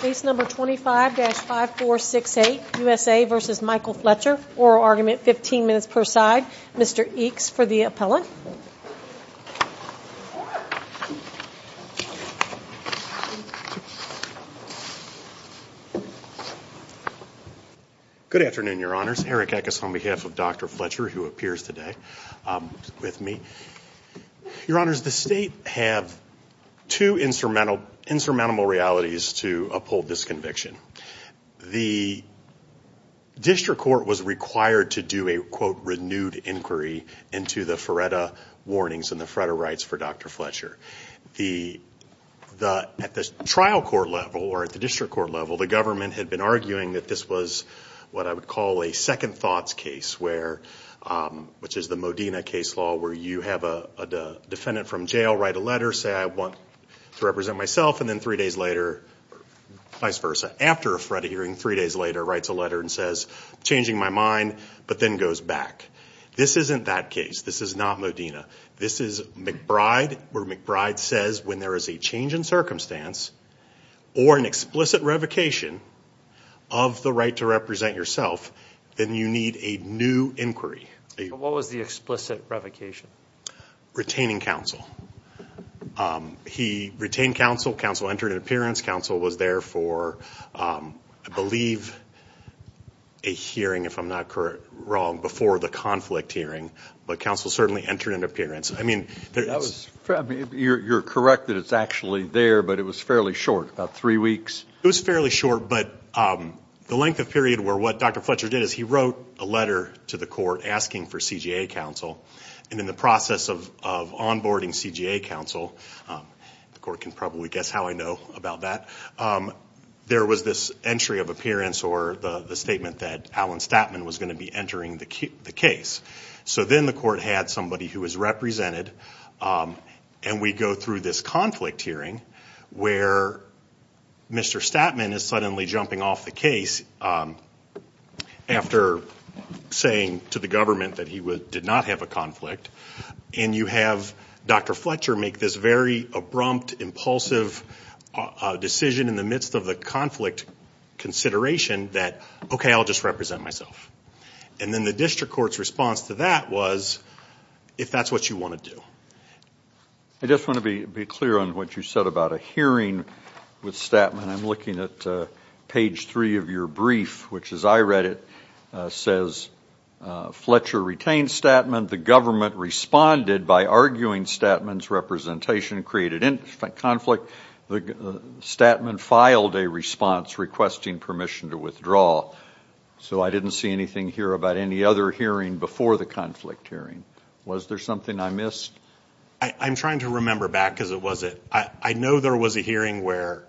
Case number 25-5468, USA v. Michael Fletcher, oral argument, 15 minutes per side, Mr. Eakes for the appellant. Good afternoon, Your Honors. Eric Eckes on behalf of Dr. Fletcher who appears today with me. Your Honors, the state have two insurmountable realities to uphold this conviction. The district court was required to do a, quote, renewed inquiry into the FREDA warnings and the FREDA rights for Dr. Fletcher. At the trial court level or at the district court level, the government had been arguing that this was what I would call a second thoughts case where, which is the Modena case law where you have a defendant from jail write a letter, say I want to represent myself, and then three days later, vice versa. After a FREDA hearing, three days later, writes a letter and says, changing my mind, but then goes back. This isn't that case. This is not Modena. This is McBride where McBride says when there is a change in circumstance or an explicit revocation of the right to represent yourself, then you need a new inquiry. What was the explicit revocation? Retaining counsel. He retained counsel. Counsel entered an appearance. Counsel was there for, I believe, a hearing, if I'm not wrong, before the conflict hearing, but counsel certainly entered an appearance. I mean, that was. You're correct that it's actually there, but it was fairly short, about three weeks. It was fairly short, but the length of period where what Dr. Fletcher did is he wrote a letter to the court asking for CJA counsel, and in the process of onboarding CJA counsel, the court can probably guess how I know about that, there was this entry of appearance or the statement that Alan Statman was going to be entering the case. So then the court had somebody who was represented, and we go through this conflict hearing where Mr. Statman is suddenly jumping off the case after saying to the government that he did not have a conflict, and you have Dr. Fletcher make this very abrupt, impulsive decision in the midst of the conflict consideration that, okay, I'll just represent myself. And then the district court's response to that was, if that's what you want to do. I just want to be clear on what you said about a hearing with Statman. I'm looking at page three of your brief, which as I read it, says, Fletcher retained Statman. The government responded by arguing Statman's representation created conflict. Statman filed a response requesting permission to withdraw. So I didn't see anything here about any other hearing before the conflict hearing. Was there something I missed? I'm trying to remember back, because it was at, I know there was a hearing where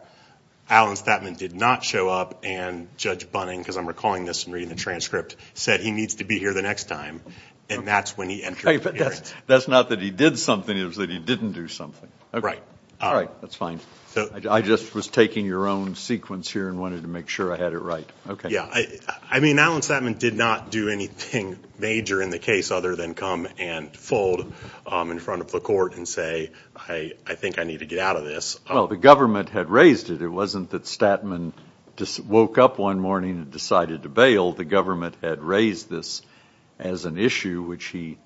Alan Statman did not show up, and Judge Bunning, because I'm recalling this and reading the transcript, said he needs to be here the next time. And that's when he entered the hearing. That's not that he did something, it was that he didn't do something. Right. All right, that's fine. I just was taking your own sequence here and wanted to make sure I had it right. Okay. Yeah. I mean, Alan Statman did not do anything major in the case other than come and fold in front of the court and say, I think I need to get out of this. Well, the government had raised it. It wasn't that Statman just woke up one morning and decided to bail. The government had raised this as an issue, which he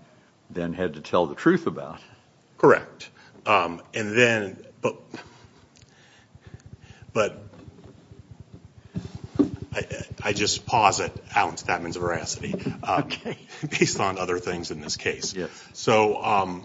then had to tell the truth about. Correct. And then, but, but I just pause at Alan Statman's veracity, based on other things in this case. So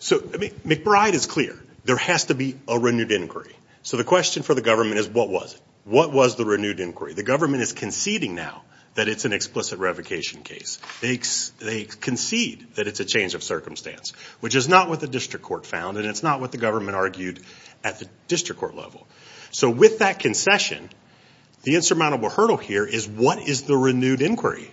McBride is clear, there has to be a renewed inquiry. So the question for the government is, what was it? What was the renewed inquiry? The government is conceding now that it's an explicit revocation case. They concede that it's a change of circumstance, which is not what the district court found, and it's not what the government argued at the district court level. So with that concession, the insurmountable hurdle here is, what is the renewed inquiry?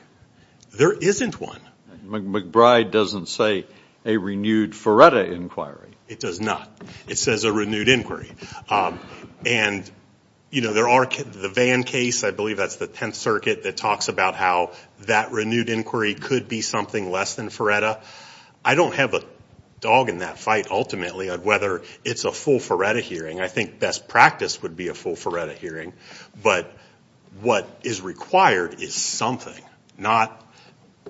There isn't one. McBride doesn't say a renewed Ferretta inquiry. It does not. It says a renewed inquiry. And, you know, there are, the Vann case, I believe that's the 10th Circuit, that talks about how that renewed inquiry could be something less than Ferretta. I don't have a dog in that fight, ultimately, of whether it's a full Ferretta hearing. I think best practice would be a full Ferretta hearing. But what is required is something, not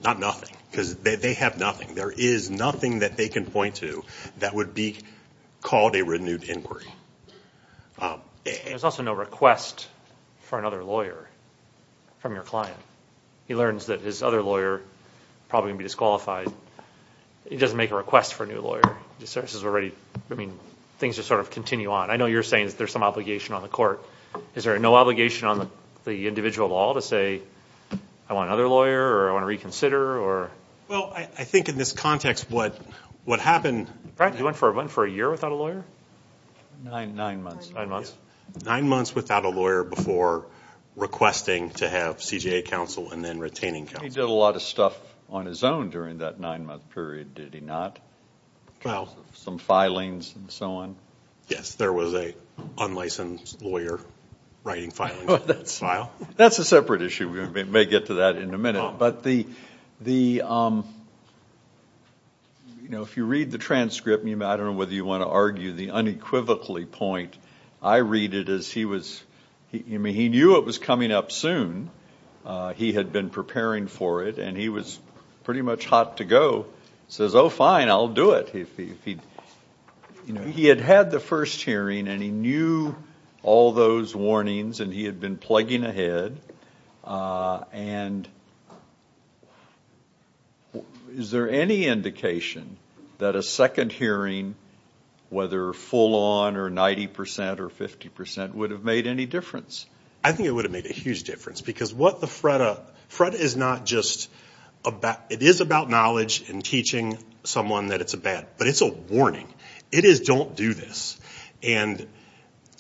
nothing. Because they have nothing. There is nothing that they can point to that would be called a renewed inquiry. There's also no request for another lawyer from your client. He learns that his other lawyer, probably going to be disqualified. He doesn't make a request for a new lawyer. He says, we're ready. I mean, things just sort of continue on. I know you're saying there's some obligation on the court. Is there no obligation on the individual at all to say, I want another lawyer, or I want to reconsider, or? Well, I think in this context, what happened... Brad, you went for a year without a lawyer? Nine months. Nine months. Nine months without a lawyer before requesting to have CJA counsel, and then retaining counsel. He did a lot of stuff on his own during that nine-month period, did he not? Well... Some filings, and so on? Yes, there was an unlicensed lawyer writing filings in that file. That's a separate issue. We may get to that in a minute. But if you read the transcript, I don't know whether you want to argue the unequivocally point. I read it as he was... I mean, he knew it was coming up soon. He had been preparing for it, and he was pretty much hot to go. Says, oh, fine, I'll do it. He had had the first hearing, and he knew all those warnings, and he had been plugging ahead. Is there any indication that a second hearing, whether full-on or 90 percent or 50 percent, would have made any difference? I think it would have made a huge difference, because what the FREDA... It is about knowledge and teaching someone that it's a bad... But it's a warning. It is, don't do this. And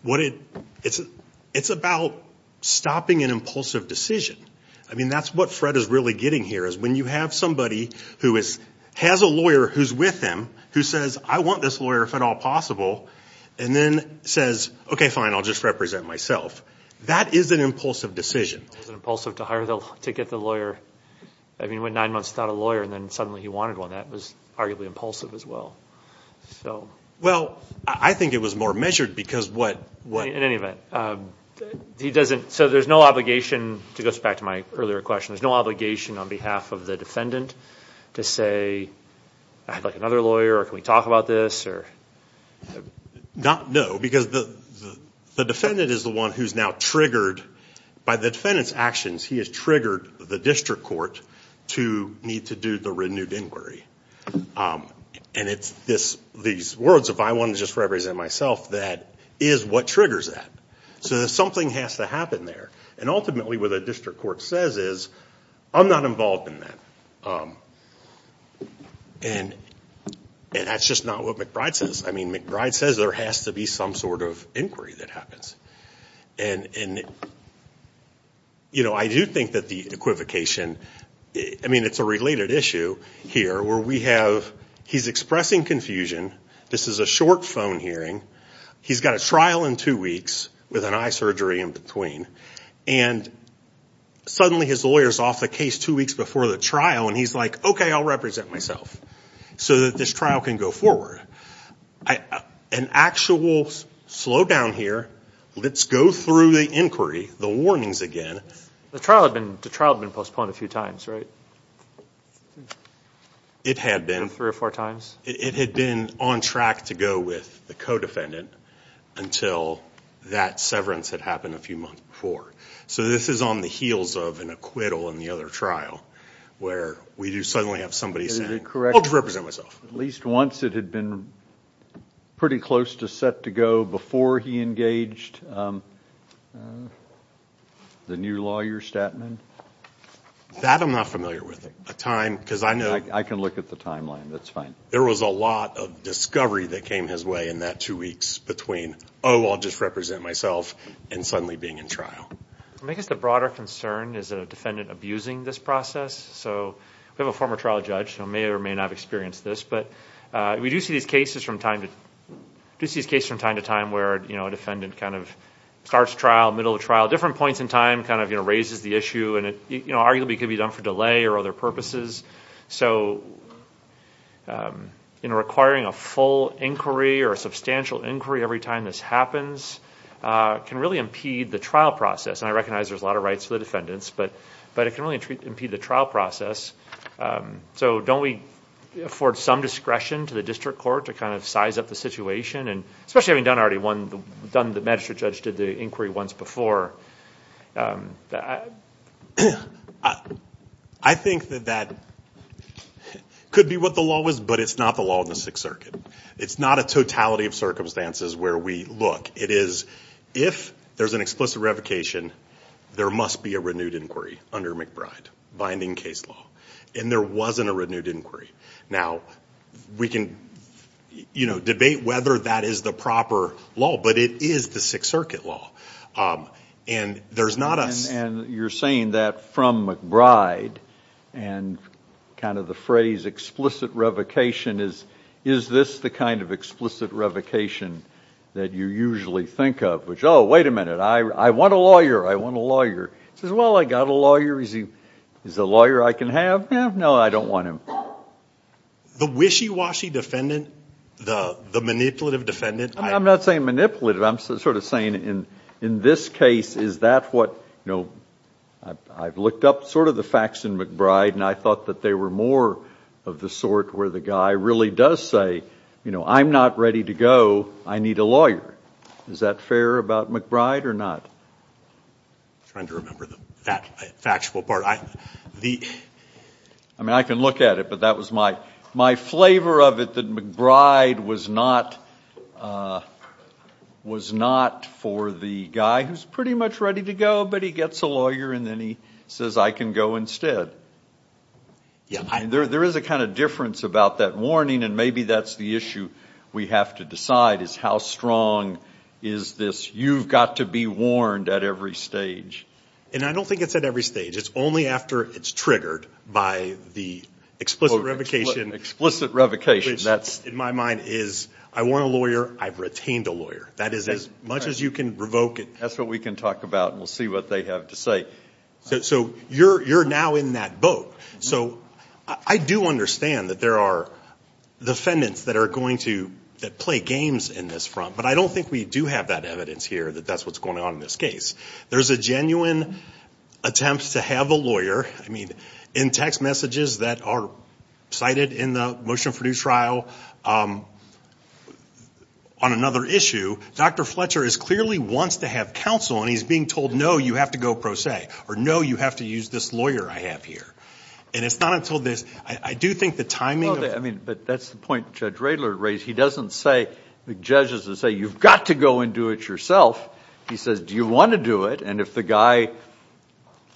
it's about stopping an impulsive decision. I mean, that's what FREDA is really getting here, is when you have somebody who has a lawyer who's with them, who says, I want this lawyer if at all possible, and then says, okay, fine, I'll just represent myself. That is an impulsive decision. It was impulsive to get the lawyer. I mean, he went nine months without a lawyer, and then suddenly he wanted one. That was arguably impulsive as well. Well, I think it was more measured, because what... In any event, he doesn't... So there's no obligation, to go back to my earlier question, there's no obligation on behalf of the defendant to say, I'd like another lawyer, or can we talk about this, or... No, because the defendant is the one who's now triggered by the defendant's actions. He has triggered the district court to need to do the renewed inquiry. And it's these words, if I want to just represent myself, that is what triggers that. So something has to happen there. And ultimately, what the district court says is, I'm not involved in that. And that's just not what McBride says. I mean, McBride says there has to be some sort of inquiry that happens. And I do think that the equivocation... I mean, it's a related issue here, where we have... He's expressing confusion. This is a short phone hearing. He's got a trial in two weeks, with an eye surgery in between. And suddenly his lawyer's off the case two weeks before the trial, and he's like, okay, I'll represent myself, so that this trial can go forward. An actual slowdown here, let's go through the inquiry, the warnings again... The trial had been postponed a few times, right? It had been. Three or four times? It had been on track to go with the co-defendant until that severance had happened a few months before. So this is on the heels of an acquittal in the other trial, where we do suddenly have somebody saying, I'll just represent myself. Is it a correction, at least once it had been pretty close to set to go before he engaged the new lawyer, Statman? That I'm not familiar with. A time, because I know... I can look at the timeline, that's fine. There was a lot of discovery that came his way in that two weeks between, oh, I'll just represent myself, and suddenly being in trial. I guess the broader concern is a defendant abusing this process. So we have a former trial judge who may or may not have experienced this, but we do see these cases from time to time where a defendant starts trial, middle of trial, different points in time, raises the issue, and it arguably could be done for delay or other purposes. So requiring a full inquiry or a substantial inquiry every time this happens can really impede the trial process, and I recognize there's a lot of rights for the defendants, but it can really impede the trial process. So don't we afford some discretion to the district court to kind of size up the situation, and especially having done already one... the magistrate judge did the inquiry once before. I think that that could be what the law is, but it's not the law in the Sixth Circuit. It's not a totality of circumstances where we look. It is if there's an explicit revocation, there must be a renewed inquiry under McBride, binding case law, and there wasn't a renewed inquiry. Now, we can debate whether that is the proper law, but it is the Sixth Circuit law, and there's not a... And you're saying that from McBride and kind of the phrase explicit revocation is, is this the kind of explicit revocation that you usually think of, which, oh, wait a minute, I want a lawyer. I want a lawyer. He says, well, I got a lawyer. Is he a lawyer I can have? No, I don't want him. The wishy-washy defendant, the manipulative defendant... I'm not saying manipulative. I'm sort of saying in this case, is that what... I've looked up sort of the facts in McBride, and I thought that they were more of the sort where the guy really does say, you know, I'm not ready to go. I need a lawyer. Is that fair about McBride or not? I'm trying to remember the factual part. I mean, I can look at it, but that was my flavor of it, that McBride was not for the guy who's pretty much ready to go, but he gets a lawyer, and then he says, I can go instead. There is a kind of difference about that warning, and maybe that's the issue we have to decide is how strong is this, you've got to be warned at every stage. And I don't think it's at every stage. It's only after it's triggered by the explicit revocation, which in my mind is I want a lawyer, I've retained a lawyer. That is, as much as you can revoke it... That's what we can talk about, and we'll see what they have to say. So you're now in that boat. So I do understand that there are defendants that play games in this front, but I don't think we do have that evidence here that that's what's going on in this case. There's a genuine attempt to have a lawyer, I mean, in text messages that are cited in the motion for due trial on another issue, Dr. Fletcher clearly wants to have counsel, and he's being told, no, you have to go pro se, or no, you have to use this lawyer I have here. And it's not until this... I do think the timing... Well, I mean, but that's the point Judge Radler raised. He doesn't say, the judge doesn't say, you've got to go and do it yourself. He says, do you want to do it? And if the guy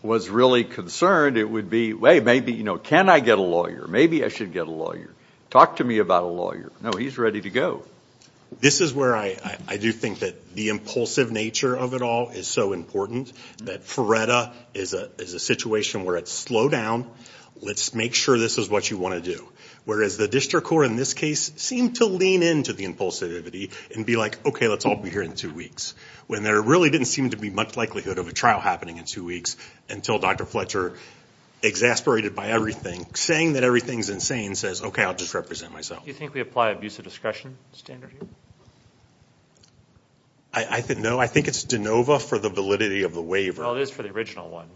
was really concerned, it would be, hey, maybe, you know, can I get a lawyer? Maybe I should get a lawyer. Talk to me about a lawyer. No, he's ready to go. This is where I do think that the impulsive nature of it all is so important, that FREDA is a situation where it's slow down, let's make sure this is what you want to do, whereas the district court in this case seemed to lean into the impulsivity and be like, okay, let's all be here in two weeks, when there really didn't seem to be much likelihood of a trial happening in two weeks, until Dr. Fletcher, exasperated by everything, saying that everything's insane, says, okay, I'll just represent myself. Do you think we apply abuse of discretion standard here? I think... no, I think it's de novo for the validity of the waiver. Well, it is for the original one.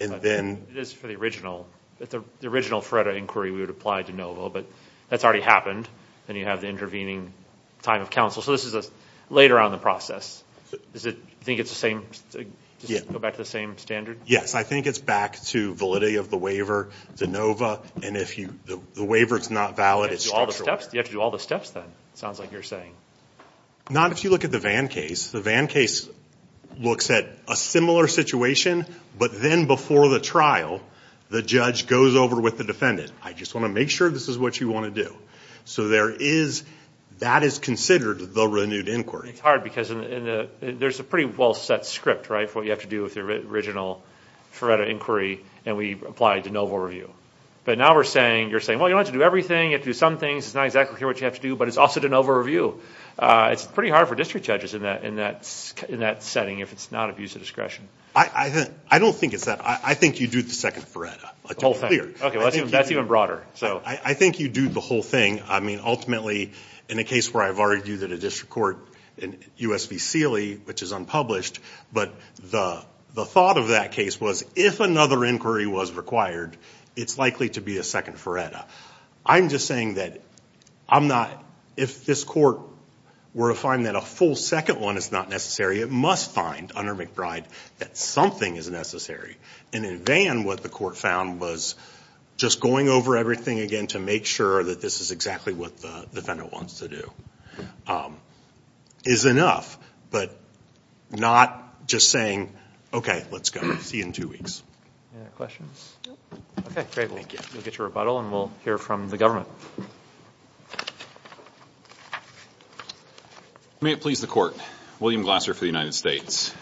And then... It is for the original, the original FREDA inquiry, we would apply de novo, but that's already happened, and you have the intervening time of counsel, so this is later on in the Is it, do you think it's the same, just go back to the same standard? Yes, I think it's back to validity of the waiver, de novo, and if the waiver's not valid, it's structural. You have to do all the steps then, sounds like you're saying. Not if you look at the Vann case, the Vann case looks at a similar situation, but then before the trial, the judge goes over with the defendant, I just want to make sure this is what you want to do. So there is, that is considered the renewed inquiry. It's hard because there's a pretty well set script, right, for what you have to do with the original FREDA inquiry, and we apply de novo review. But now we're saying, you're saying, well, you don't have to do everything, you have to do some things, it's not exactly what you have to do, but it's also de novo review. It's pretty hard for district judges in that setting if it's not abuse of discretion. I don't think it's that. I think you do the second FREDA, to be clear. Okay, that's even broader. I think you do the whole thing. I mean, ultimately, in a case where I've argued that a district court, in US v. Sealy, which is unpublished, but the thought of that case was, if another inquiry was required, it's likely to be a second FREDA. I'm just saying that I'm not, if this court were to find that a full second one is not necessary, it must find, under McBride, that something is necessary. And in Vann, what the court found was just going over everything again to make sure that this is exactly what the defendant wants to do is enough. But not just saying, okay, let's go, see you in two weeks. Any other questions? Okay, great. Thank you. We'll get your rebuttal, and we'll hear from the government. May it please the court. William Glasser for the United States.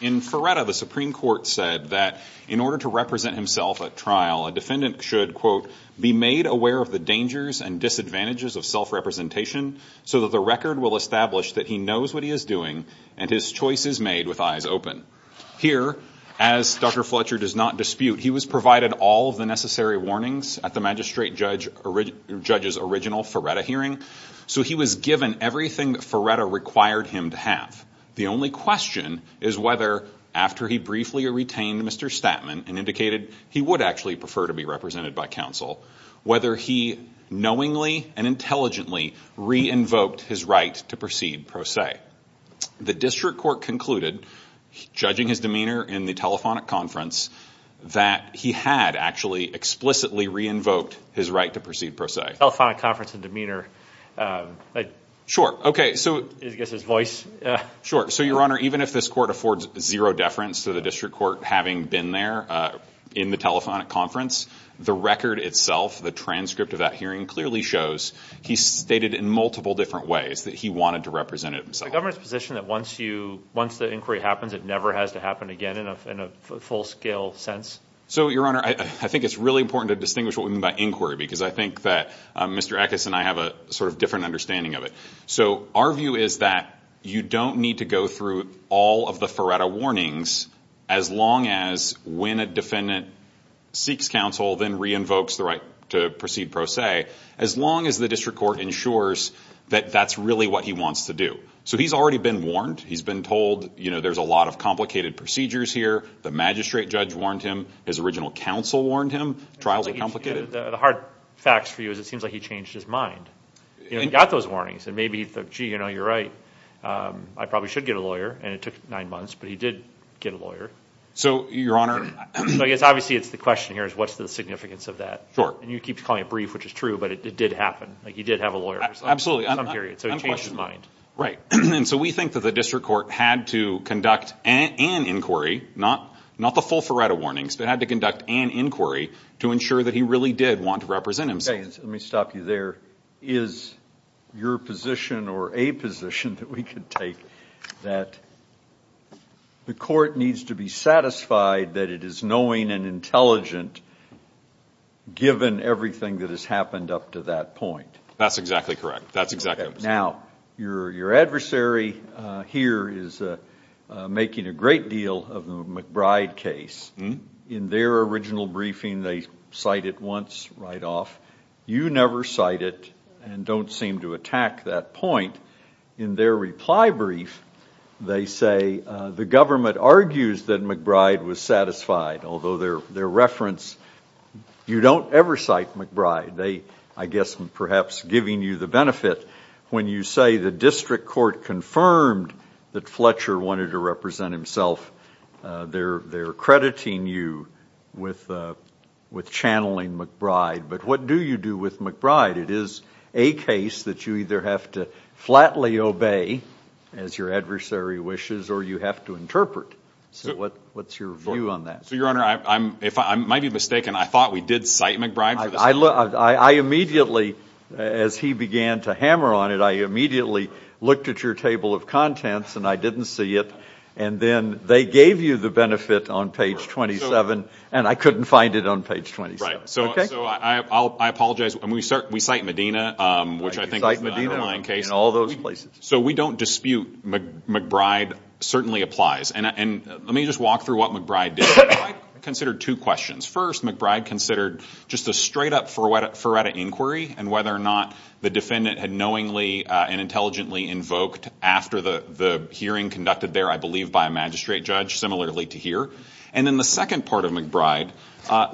In FREDA, the Supreme Court said that in order to represent himself at trial, a defendant should, quote, be made aware of the dangers and disadvantages of self-representation so that the record will establish that he knows what he is doing, and his choice is made with eyes open. Here, as Dr. Fletcher does not dispute, he was provided all of the necessary warnings at the magistrate judge's original FREDA hearing, so he was given everything that FREDA required him to have. The only question is whether, after he briefly retained Mr. Statman and indicated he would actually prefer to be represented by counsel, whether he knowingly and intelligently re-invoked his right to proceed pro se. The district court concluded, judging his demeanor in the telephonic conference, that he had actually explicitly re-invoked his right to proceed pro se. Telephonic conference and demeanor. Sure. Okay, so. I guess his voice. Sure. So, Your Honor, even if this court affords zero deference to the district court having been there in the telephonic conference, the record itself, the transcript of that hearing clearly shows he stated in multiple different ways that he wanted to represent himself. Is the governor's position that once you, once the inquiry happens, it never has to happen again in a full-scale sense? So Your Honor, I think it's really important to distinguish what we mean by inquiry because I think that Mr. Eckes and I have a sort of different understanding of it. So our view is that you don't need to go through all of the FREDA warnings as long as when a defendant seeks counsel, then re-invokes the right to proceed pro se, as long as the district court ensures that that's really what he wants to do. So he's already been warned. He's been told, you know, there's a lot of complicated procedures here. The magistrate judge warned him. His original counsel warned him. Trials are complicated. The hard facts for you is it seems like he changed his mind. He got those warnings and maybe he thought, gee, you know, you're right, I probably should get a lawyer. And it took nine months, but he did get a lawyer. So Your Honor. So I guess obviously it's the question here is what's the significance of that? Sure. And you keep calling it brief, which is true, but it did happen. Like, you did have a lawyer for some period, so it changed his mind. Right. And so we think that the district court had to conduct an inquiry, not the full FREDA warnings, but had to conduct an inquiry to ensure that he really did want to represent himself. Okay, let me stop you there. Is your position or a position that we could take that the court needs to be satisfied that it is knowing and intelligent given everything that has happened up to that point? That's exactly correct. That's exactly right. Now, your adversary here is making a great deal of the McBride case. In their original briefing, they cite it once right off. You never cite it and don't seem to attack that point. In their reply brief, they say the government argues that McBride was satisfied, although their reference, you don't ever cite McBride. They, I guess, perhaps giving you the benefit when you say the district court confirmed that Fletcher wanted to represent himself, they're crediting you with channeling McBride. What do you do with McBride? It is a case that you either have to flatly obey, as your adversary wishes, or you have to interpret. What's your view on that? Your Honor, I might be mistaken. I thought we did cite McBride for this. I immediately, as he began to hammer on it, I immediately looked at your table of contents and I didn't see it. Then they gave you the benefit on page 27 and I couldn't find it on page 27. That's right. I apologize. We cite Medina, which I think is the underlying case. You cite Medina in all those places. We don't dispute McBride certainly applies. Let me just walk through what McBride did. McBride considered two questions. First, McBride considered just a straight up Furetta inquiry and whether or not the defendant had knowingly and intelligently invoked after the hearing conducted there, I believe by a magistrate judge, similarly to here. Then the second part of McBride,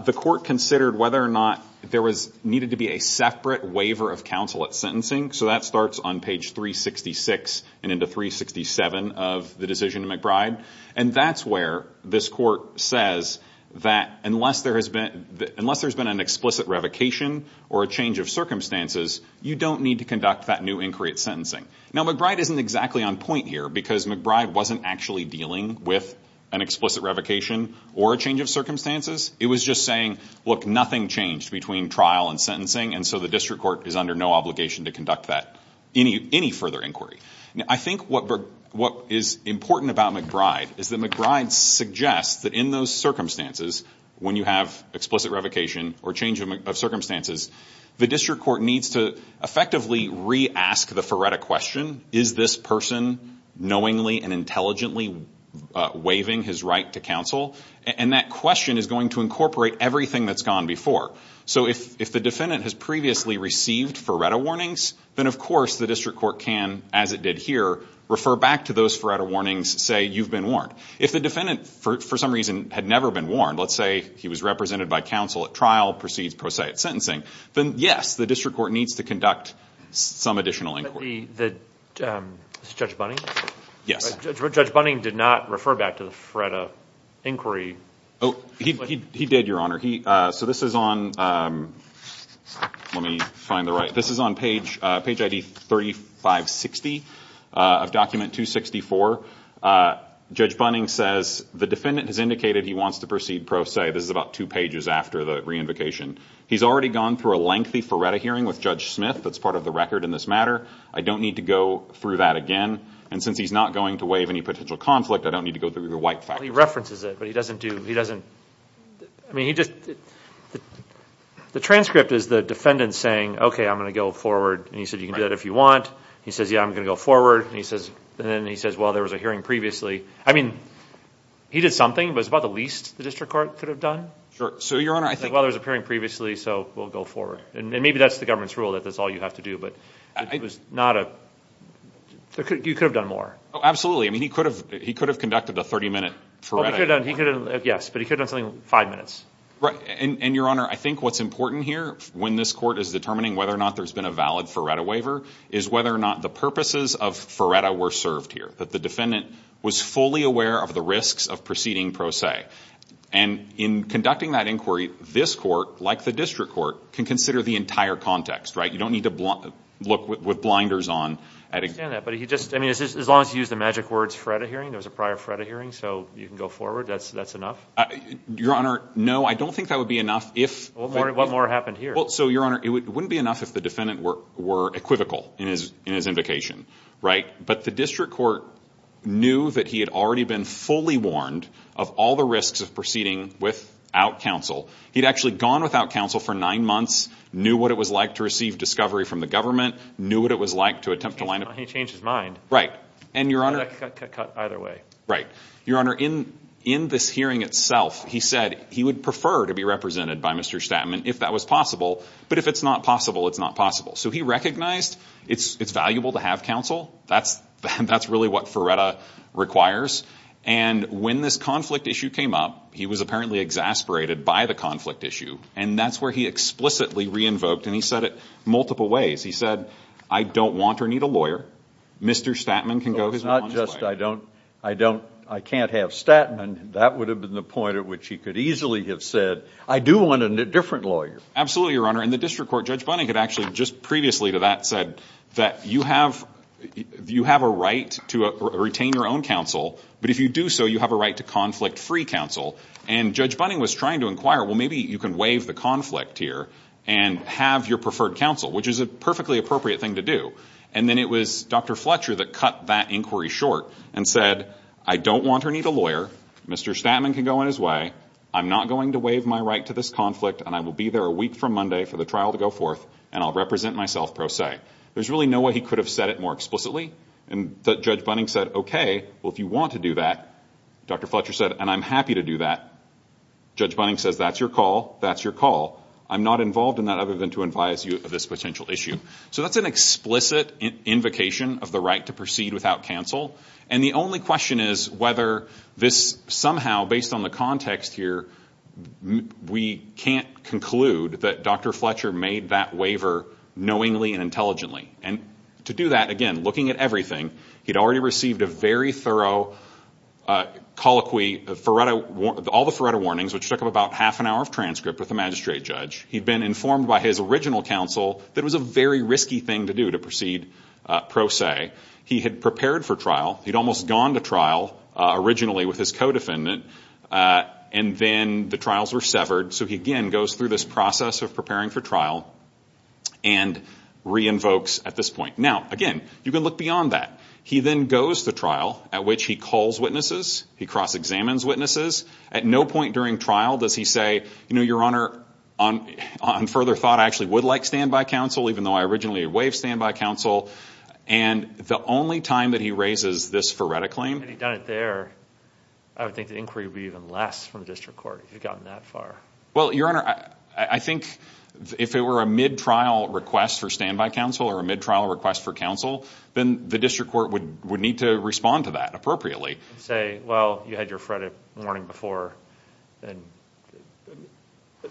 the court considered whether or not there needed to be a separate waiver of counsel at sentencing. That starts on page 366 and into 367 of the decision to McBride. That's where this court says that unless there's been an explicit revocation or a change of circumstances you don't need to conduct that new inquiry at sentencing. McBride isn't exactly on point here because McBride wasn't actually dealing with an explicit revocation or a change of circumstances. It was just saying, look, nothing changed between trial and sentencing and so the district court is under no obligation to conduct that, any further inquiry. I think what is important about McBride is that McBride suggests that in those circumstances, when you have explicit revocation or change of circumstances, the district court needs to effectively re-ask the Furetta question, is this person knowingly and intelligently waiving his right to counsel? And that question is going to incorporate everything that's gone before. So if the defendant has previously received Furetta warnings, then of course the district court can, as it did here, refer back to those Furetta warnings, say, you've been warned. If the defendant, for some reason, had never been warned, let's say he was represented by counsel at trial, proceeds pro se at sentencing, then yes, the district court needs to conduct some additional inquiry. Judge Bunning did not refer back to the Furetta inquiry. He did, Your Honor. So this is on, let me find the right, this is on page ID 3560 of document 264. Judge Bunning says, the defendant has indicated he wants to proceed pro se, this is about two pages after the re-invocation. He's already gone through a lengthy Furetta hearing with Judge Smith, that's part of the case matter. I don't need to go through that again. And since he's not going to waive any potential conflict, I don't need to go through your white fact sheet. Well, he references it, but he doesn't do, he doesn't, I mean, he just, the transcript is the defendant saying, okay, I'm going to go forward, and he said, you can do that if you want. He says, yeah, I'm going to go forward. And he says, and then he says, well, there was a hearing previously. I mean, he did something, but it's about the least the district court could have done. Sure. So, Your Honor, I think. Well, there was a hearing previously, so we'll go forward. And maybe that's the government's rule that that's all you have to do, but it was not a, you could have done more. Oh, absolutely. I mean, he could have, he could have conducted a 30 minute Furetta. He could have done, yes, but he could have done something five minutes. Right. And Your Honor, I think what's important here when this court is determining whether or not there's been a valid Furetta waiver is whether or not the purposes of Furetta were served here, that the defendant was fully aware of the risks of proceeding pro se. And in conducting that inquiry, this court, like the district court, can consider the entire context. You don't need to look with blinders on. I understand that. But he just, I mean, as long as you use the magic words, Furetta hearing, there was a prior Furetta hearing. So you can go forward. That's enough. Your Honor. No, I don't think that would be enough if. What more happened here? Well, so Your Honor, it wouldn't be enough if the defendant were equivocal in his, in his invocation. Right. But the district court knew that he had already been fully warned of all the risks of proceeding without counsel. He'd actually gone without counsel for nine months, knew what it was like to receive discovery from the government, knew what it was like to attempt to line up. He changed his mind. Right. And Your Honor. Either way. Right. Your Honor, in, in this hearing itself, he said he would prefer to be represented by Mr. Statman if that was possible, but if it's not possible, it's not possible. So he recognized it's, it's valuable to have counsel. That's, that's really what Ferretta requires. And when this conflict issue came up, he was apparently exasperated by the conflict issue. And that's where he explicitly re-invoked and he said it multiple ways. He said, I don't want or need a lawyer. Mr. Statman can go. It's not just, I don't, I don't, I can't have Statman. That would have been the point at which he could easily have said, I do want a different lawyer. Absolutely. Your Honor. And the district court, Judge Bunning had actually just previously to that said that you have, you have a right to retain your own counsel, but if you do so, you have a right to conflict free counsel. And Judge Bunning was trying to inquire, well, maybe you can waive the conflict here and have your preferred counsel, which is a perfectly appropriate thing to do. And then it was Dr. Fletcher that cut that inquiry short and said, I don't want or need a lawyer. Mr. Statman can go in his way. I'm not going to waive my right to this conflict. And I will be there a week from Monday for the trial to go forth and I'll represent myself pro se. There's really no way he could have said it more explicitly. And Judge Bunning said, okay, well, if you want to do that, Dr. Fletcher said, and I'm happy to do that. Judge Bunning says, that's your call. That's your call. I'm not involved in that other than to advise you of this potential issue. So that's an explicit invocation of the right to proceed without counsel. And the only question is whether this somehow, based on the context here, we can't conclude that Dr. Fletcher made that waiver knowingly and intelligently. And to do that, again, looking at everything, he'd already received a very thorough colloquy, all the Faretto warnings, which took him about half an hour of transcript with the magistrate judge. He'd been informed by his original counsel that it was a very risky thing to do to proceed pro se. He had prepared for trial. He'd almost gone to trial originally with his co-defendant. And then the trials were severed. So he, again, goes through this process of preparing for trial and re-invokes at this point. Now, again, you can look beyond that. He then goes to trial, at which he calls witnesses. He cross-examines witnesses. At no point during trial does he say, you know, Your Honor, on further thought, I actually would like standby counsel, even though I originally waived standby counsel. And the only time that he raises this Faretto claim... Had he done it there, I would think the inquiry would be even less from the district court if he'd gotten that far. Well, Your Honor, I think if it were a mid-trial request for standby counsel or a mid-trial request for counsel, then the district court would need to respond to that appropriately. And say, well, you had your Faretto warning before, and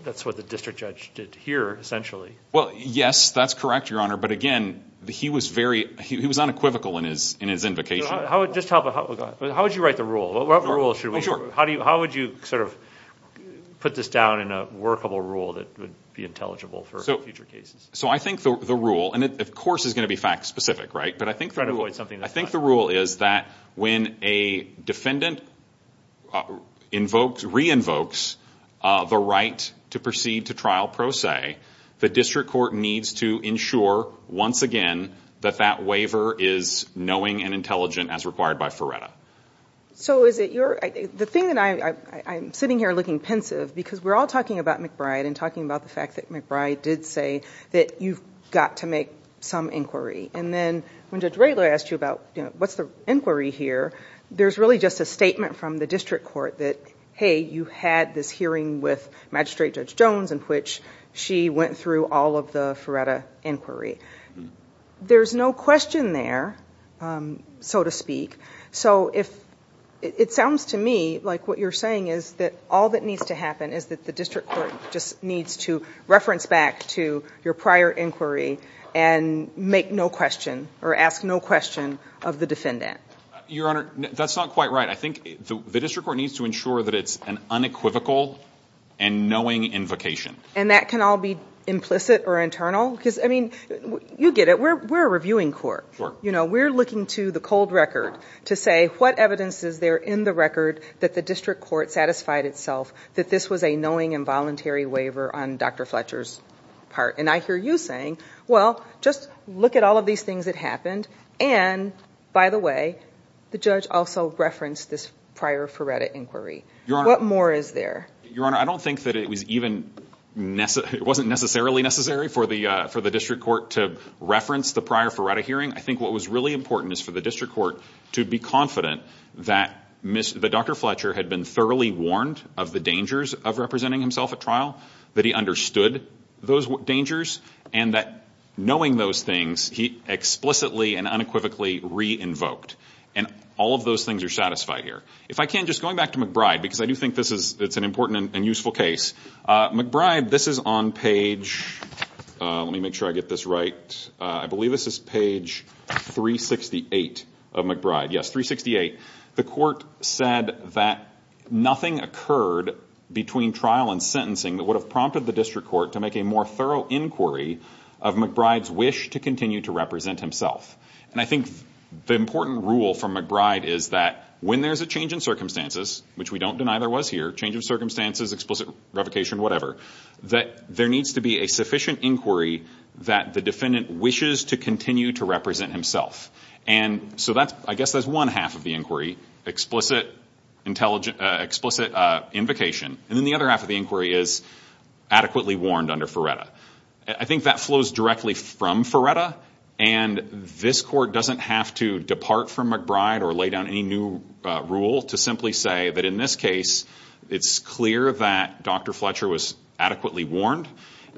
that's what the district judge did here, essentially. Well, yes, that's correct, Your Honor. But again, he was unequivocal in his invocation. How would you write the rule? What rule should we... Oh, sure. How would you sort of put this down in a workable rule that would be intelligible for future cases? So I think the rule... And it, of course, is going to be fact-specific, right? But I think the rule is that when a defendant re-invokes the right to proceed to trial pro se, the district court needs to ensure, once again, that that waiver is knowing and intelligent as required by Faretto. So is it your... The thing that I... I'm sitting here looking pensive because we're all talking about McBride and talking about the fact that McBride did say that you've got to make some inquiry. And then when Judge Radler asked you about what's the inquiry here, there's really just a statement from the district court that, hey, you had this hearing with Magistrate Judge Jones in which she went through all of the Faretto inquiry. There's no question there, so to speak. So if... It sounds to me like what you're saying is that all that needs to happen is that the district court just needs to reference back to your prior inquiry and make no question or ask no question of the defendant. Your Honor, that's not quite right. I think the district court needs to ensure that it's an unequivocal and knowing invocation. And that can all be implicit or internal? Because, I mean, you get it. We're a reviewing court. We're looking to the cold record to say what evidence is there in the record that the district court satisfied itself that this was a knowing and voluntary waiver on Dr. Fletcher's part. And I hear you saying, well, just look at all of these things that happened. And, by the way, the judge also referenced this prior Faretto inquiry. What more is there? Your Honor, I don't think that it was even... It wasn't necessarily necessary for the district court to reference the prior Faretto hearing. I think what was really important is for the district court to be confident that Dr. Fletcher had been thoroughly warned of the dangers of representing himself at trial, that he understood those dangers, and that knowing those things, he explicitly and unequivocally re-invoked. And all of those things are satisfied here. If I can, just going back to McBride, because I do think it's an important and useful case. McBride, this is on page... Let me make sure I get this right. I believe this is page 368 of McBride. Yes, 368. The court said that nothing occurred between trial and sentencing that would have prompted the district court to make a more thorough inquiry of McBride's wish to continue to represent himself. And I think the important rule from McBride is that when there's a change in circumstances, which we don't deny there was here, change of circumstances, explicit revocation, whatever, that there needs to be a sufficient inquiry that the defendant wishes to continue to represent himself. And, so that's... I guess that's one half of the inquiry, explicit invocation. And then the other half of the inquiry is adequately warned under Ferretta. I think that flows directly from Ferretta. And this court doesn't have to depart from McBride or lay down any new rule to simply say that in this case, it's clear that Dr. Fletcher was adequately warned.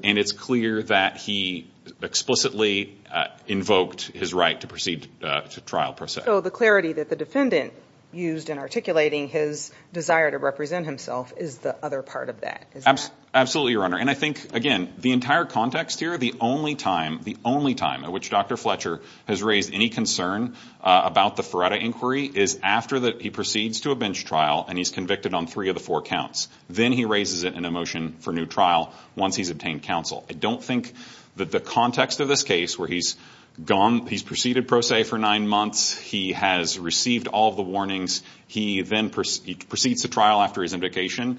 And it's clear that he explicitly invoked his right to proceed to trial, per se. So the clarity that the defendant used in articulating his desire to represent himself is the other part of that, is that... Absolutely, Your Honor. And I think, again, the entire context here, the only time, the only time at which Dr. Fletcher has raised any concern about the Ferretta inquiry is after he proceeds to a bench trial and he's convicted on three of the four counts. Then he raises it in a motion for new trial once he's obtained counsel. I don't think that the context of this case, where he's gone... He's proceeded, per se, for nine months. He has received all of the warnings. He then proceeds to trial after his indication.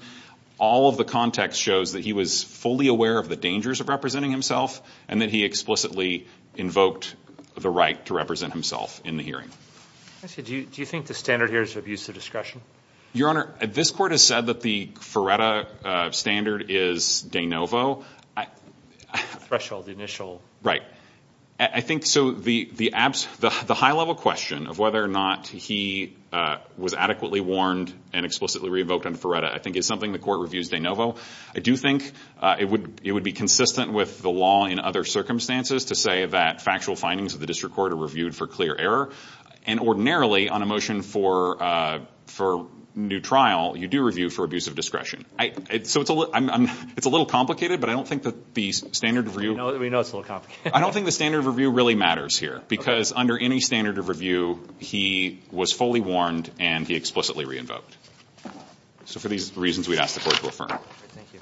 All of the context shows that he was fully aware of the dangers of representing himself and that he explicitly invoked the right to represent himself in the hearing. Do you think the standard here is abuse of discretion? Your Honor, this court has said that the Ferretta standard is de novo. Threshold, initial. Right. I think, so the high-level question of whether or not he was adequately warned and explicitly revoked on Ferretta, I think, is something the court reviews de novo. I do think it would be consistent with the law in other circumstances to say that factual findings of the district court are reviewed for clear error. And ordinarily, on a motion for new trial, you do review for abuse of discretion. So it's a little complicated, but I don't think that the standard review... We know it's a little complicated. I don't think the standard review really matters here because under any standard of review, he was fully warned and he explicitly re-invoked. So for these reasons, we'd ask the court to affirm. Thank you.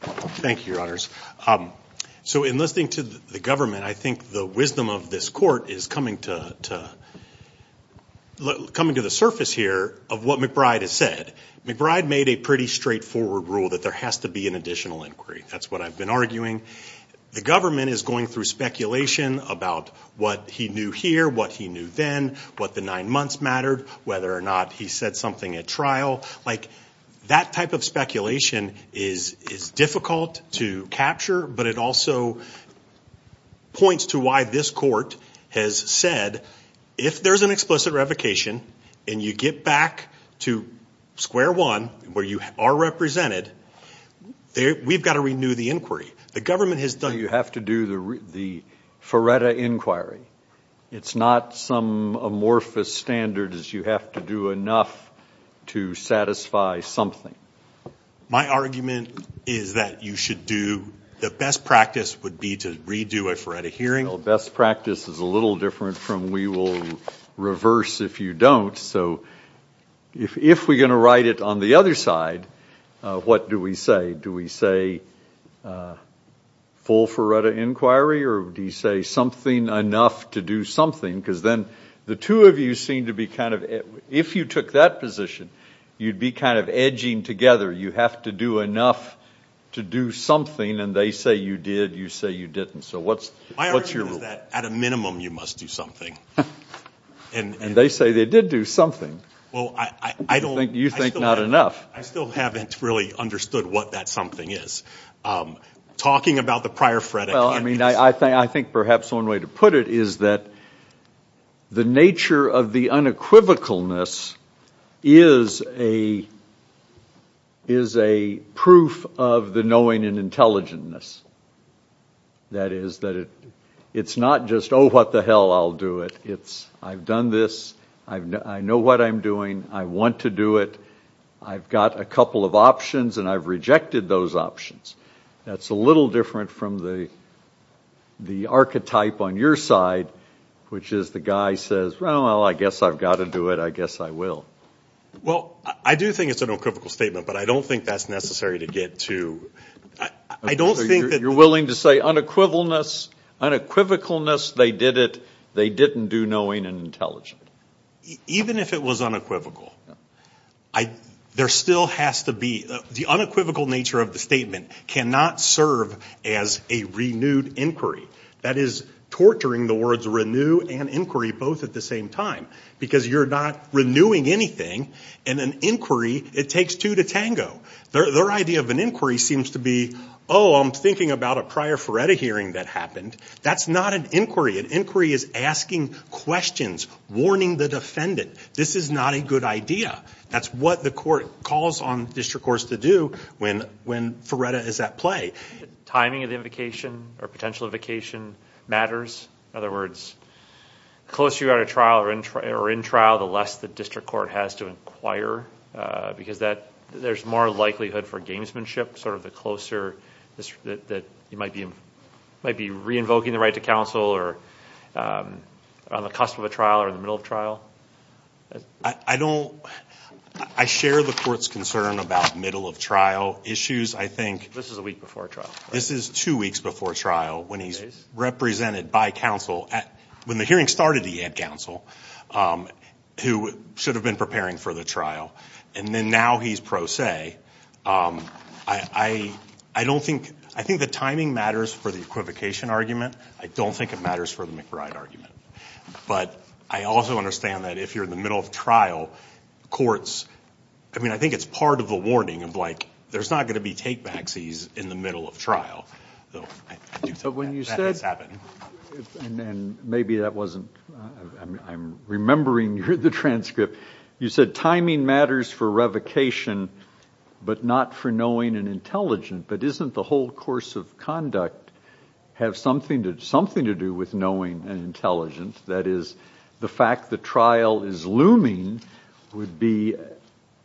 Thank you, Your Honors. So in listening to the government, I think the wisdom of this court is coming to the surface here of what McBride has said. McBride made a pretty straightforward rule that there has to be an additional inquiry. That's what I've been arguing. The government is going through speculation about what he knew here, what he knew then, what the nine months mattered, whether or not he said something at trial. That type of speculation is difficult to capture, but it also points to why this court has said if there's an explicit revocation and you get back to square one where you are represented, we've got to renew the inquiry. The government has done... You have to do the FARETA inquiry. It's not some amorphous standard as you have to do enough to satisfy something. My argument is that you should do... The best practice would be to redo a FARETA hearing. Best practice is a little different from we will reverse if you don't. So if we're going to write it on the other side, what do we say? Do we say full FARETA inquiry or do you say something enough to do something? Because then the two of you seem to be kind of... If you took that position, you'd be kind of edging together. You have to do enough to do something and they say you did, you say you didn't. So what's your rule? My argument is that at a minimum, you must do something. And they say they did do something. You think not enough. I still haven't really understood what that something is. Talking about the prior FARETA hearings... I think perhaps one way to put it is that the nature of the unequivocalness is a proof of the knowing and intelligentness. That is that it's not just, oh, what the hell, I'll do it. I've done this. I know what I'm doing. I want to do it. I've got a couple of options and I've rejected those options. That's a little different from the archetype on your side, which is the guy says, well, I guess I've got to do it. I guess I will. Well, I do think it's an equivocal statement, but I don't think that's necessary to get to... So you're willing to say unequivocalness, they did it, they didn't do knowing and intelligent. Even if it was unequivocal, there still has to be... The unequivocal nature of the statement cannot serve as a renewed inquiry. That is torturing the words renew and inquiry both at the same time because you're not renewing anything. In an inquiry, it takes two to tango. Their idea of an inquiry seems to be, oh, I'm thinking about a prior Ferretta hearing that happened. That's not an inquiry. An inquiry is asking questions, warning the defendant. This is not a good idea. That's what the court calls on district courts to do when Ferretta is at play. Timing of the invocation or potential invocation matters. In other words, the closer you are to trial or in trial, the less the district court has to inquire because there's more likelihood for gamesmanship, the closer that you might be re-invoking the right to counsel or on the cusp of a trial or in the middle of trial. I share the court's concern about middle of trial issues. I think... This is a week before trial. This is two weeks before trial when he's represented by counsel. When the hearing started, he had counsel who should have been preparing for the trial. Now he's pro se. I don't think... I think the timing matters for the equivocation argument. I don't think it matters for the McBride argument. I also understand that if you're in the middle of trial, courts... I think it's part of the warning of there's not going to be take-backsies in the middle of trial. I do think that has happened. But when you said, and maybe that wasn't... I'm remembering the transcript. You said timing matters for revocation, but not for knowing and intelligent, but isn't the whole course of conduct have something to do with knowing and intelligent? That is, the fact that trial is looming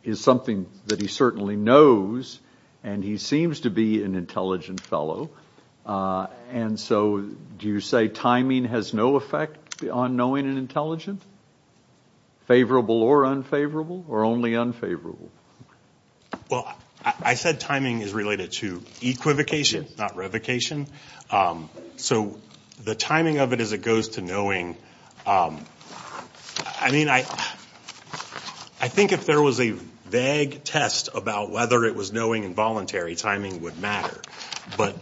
is something that he certainly knows and he seems to be an intelligent fellow. And so, do you say timing has no effect on knowing and intelligent? Favorable or unfavorable, or only unfavorable? Well, I said timing is related to equivocation, not revocation. So the timing of it as it goes to knowing, I mean, I think if there was a vague test about whether it was knowing and voluntary, timing would matter. But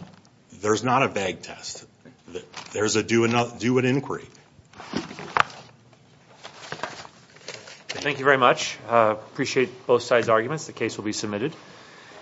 there's not a vague test. There's a do an inquiry. Thank you very much. I appreciate both sides' arguments. The case will be submitted.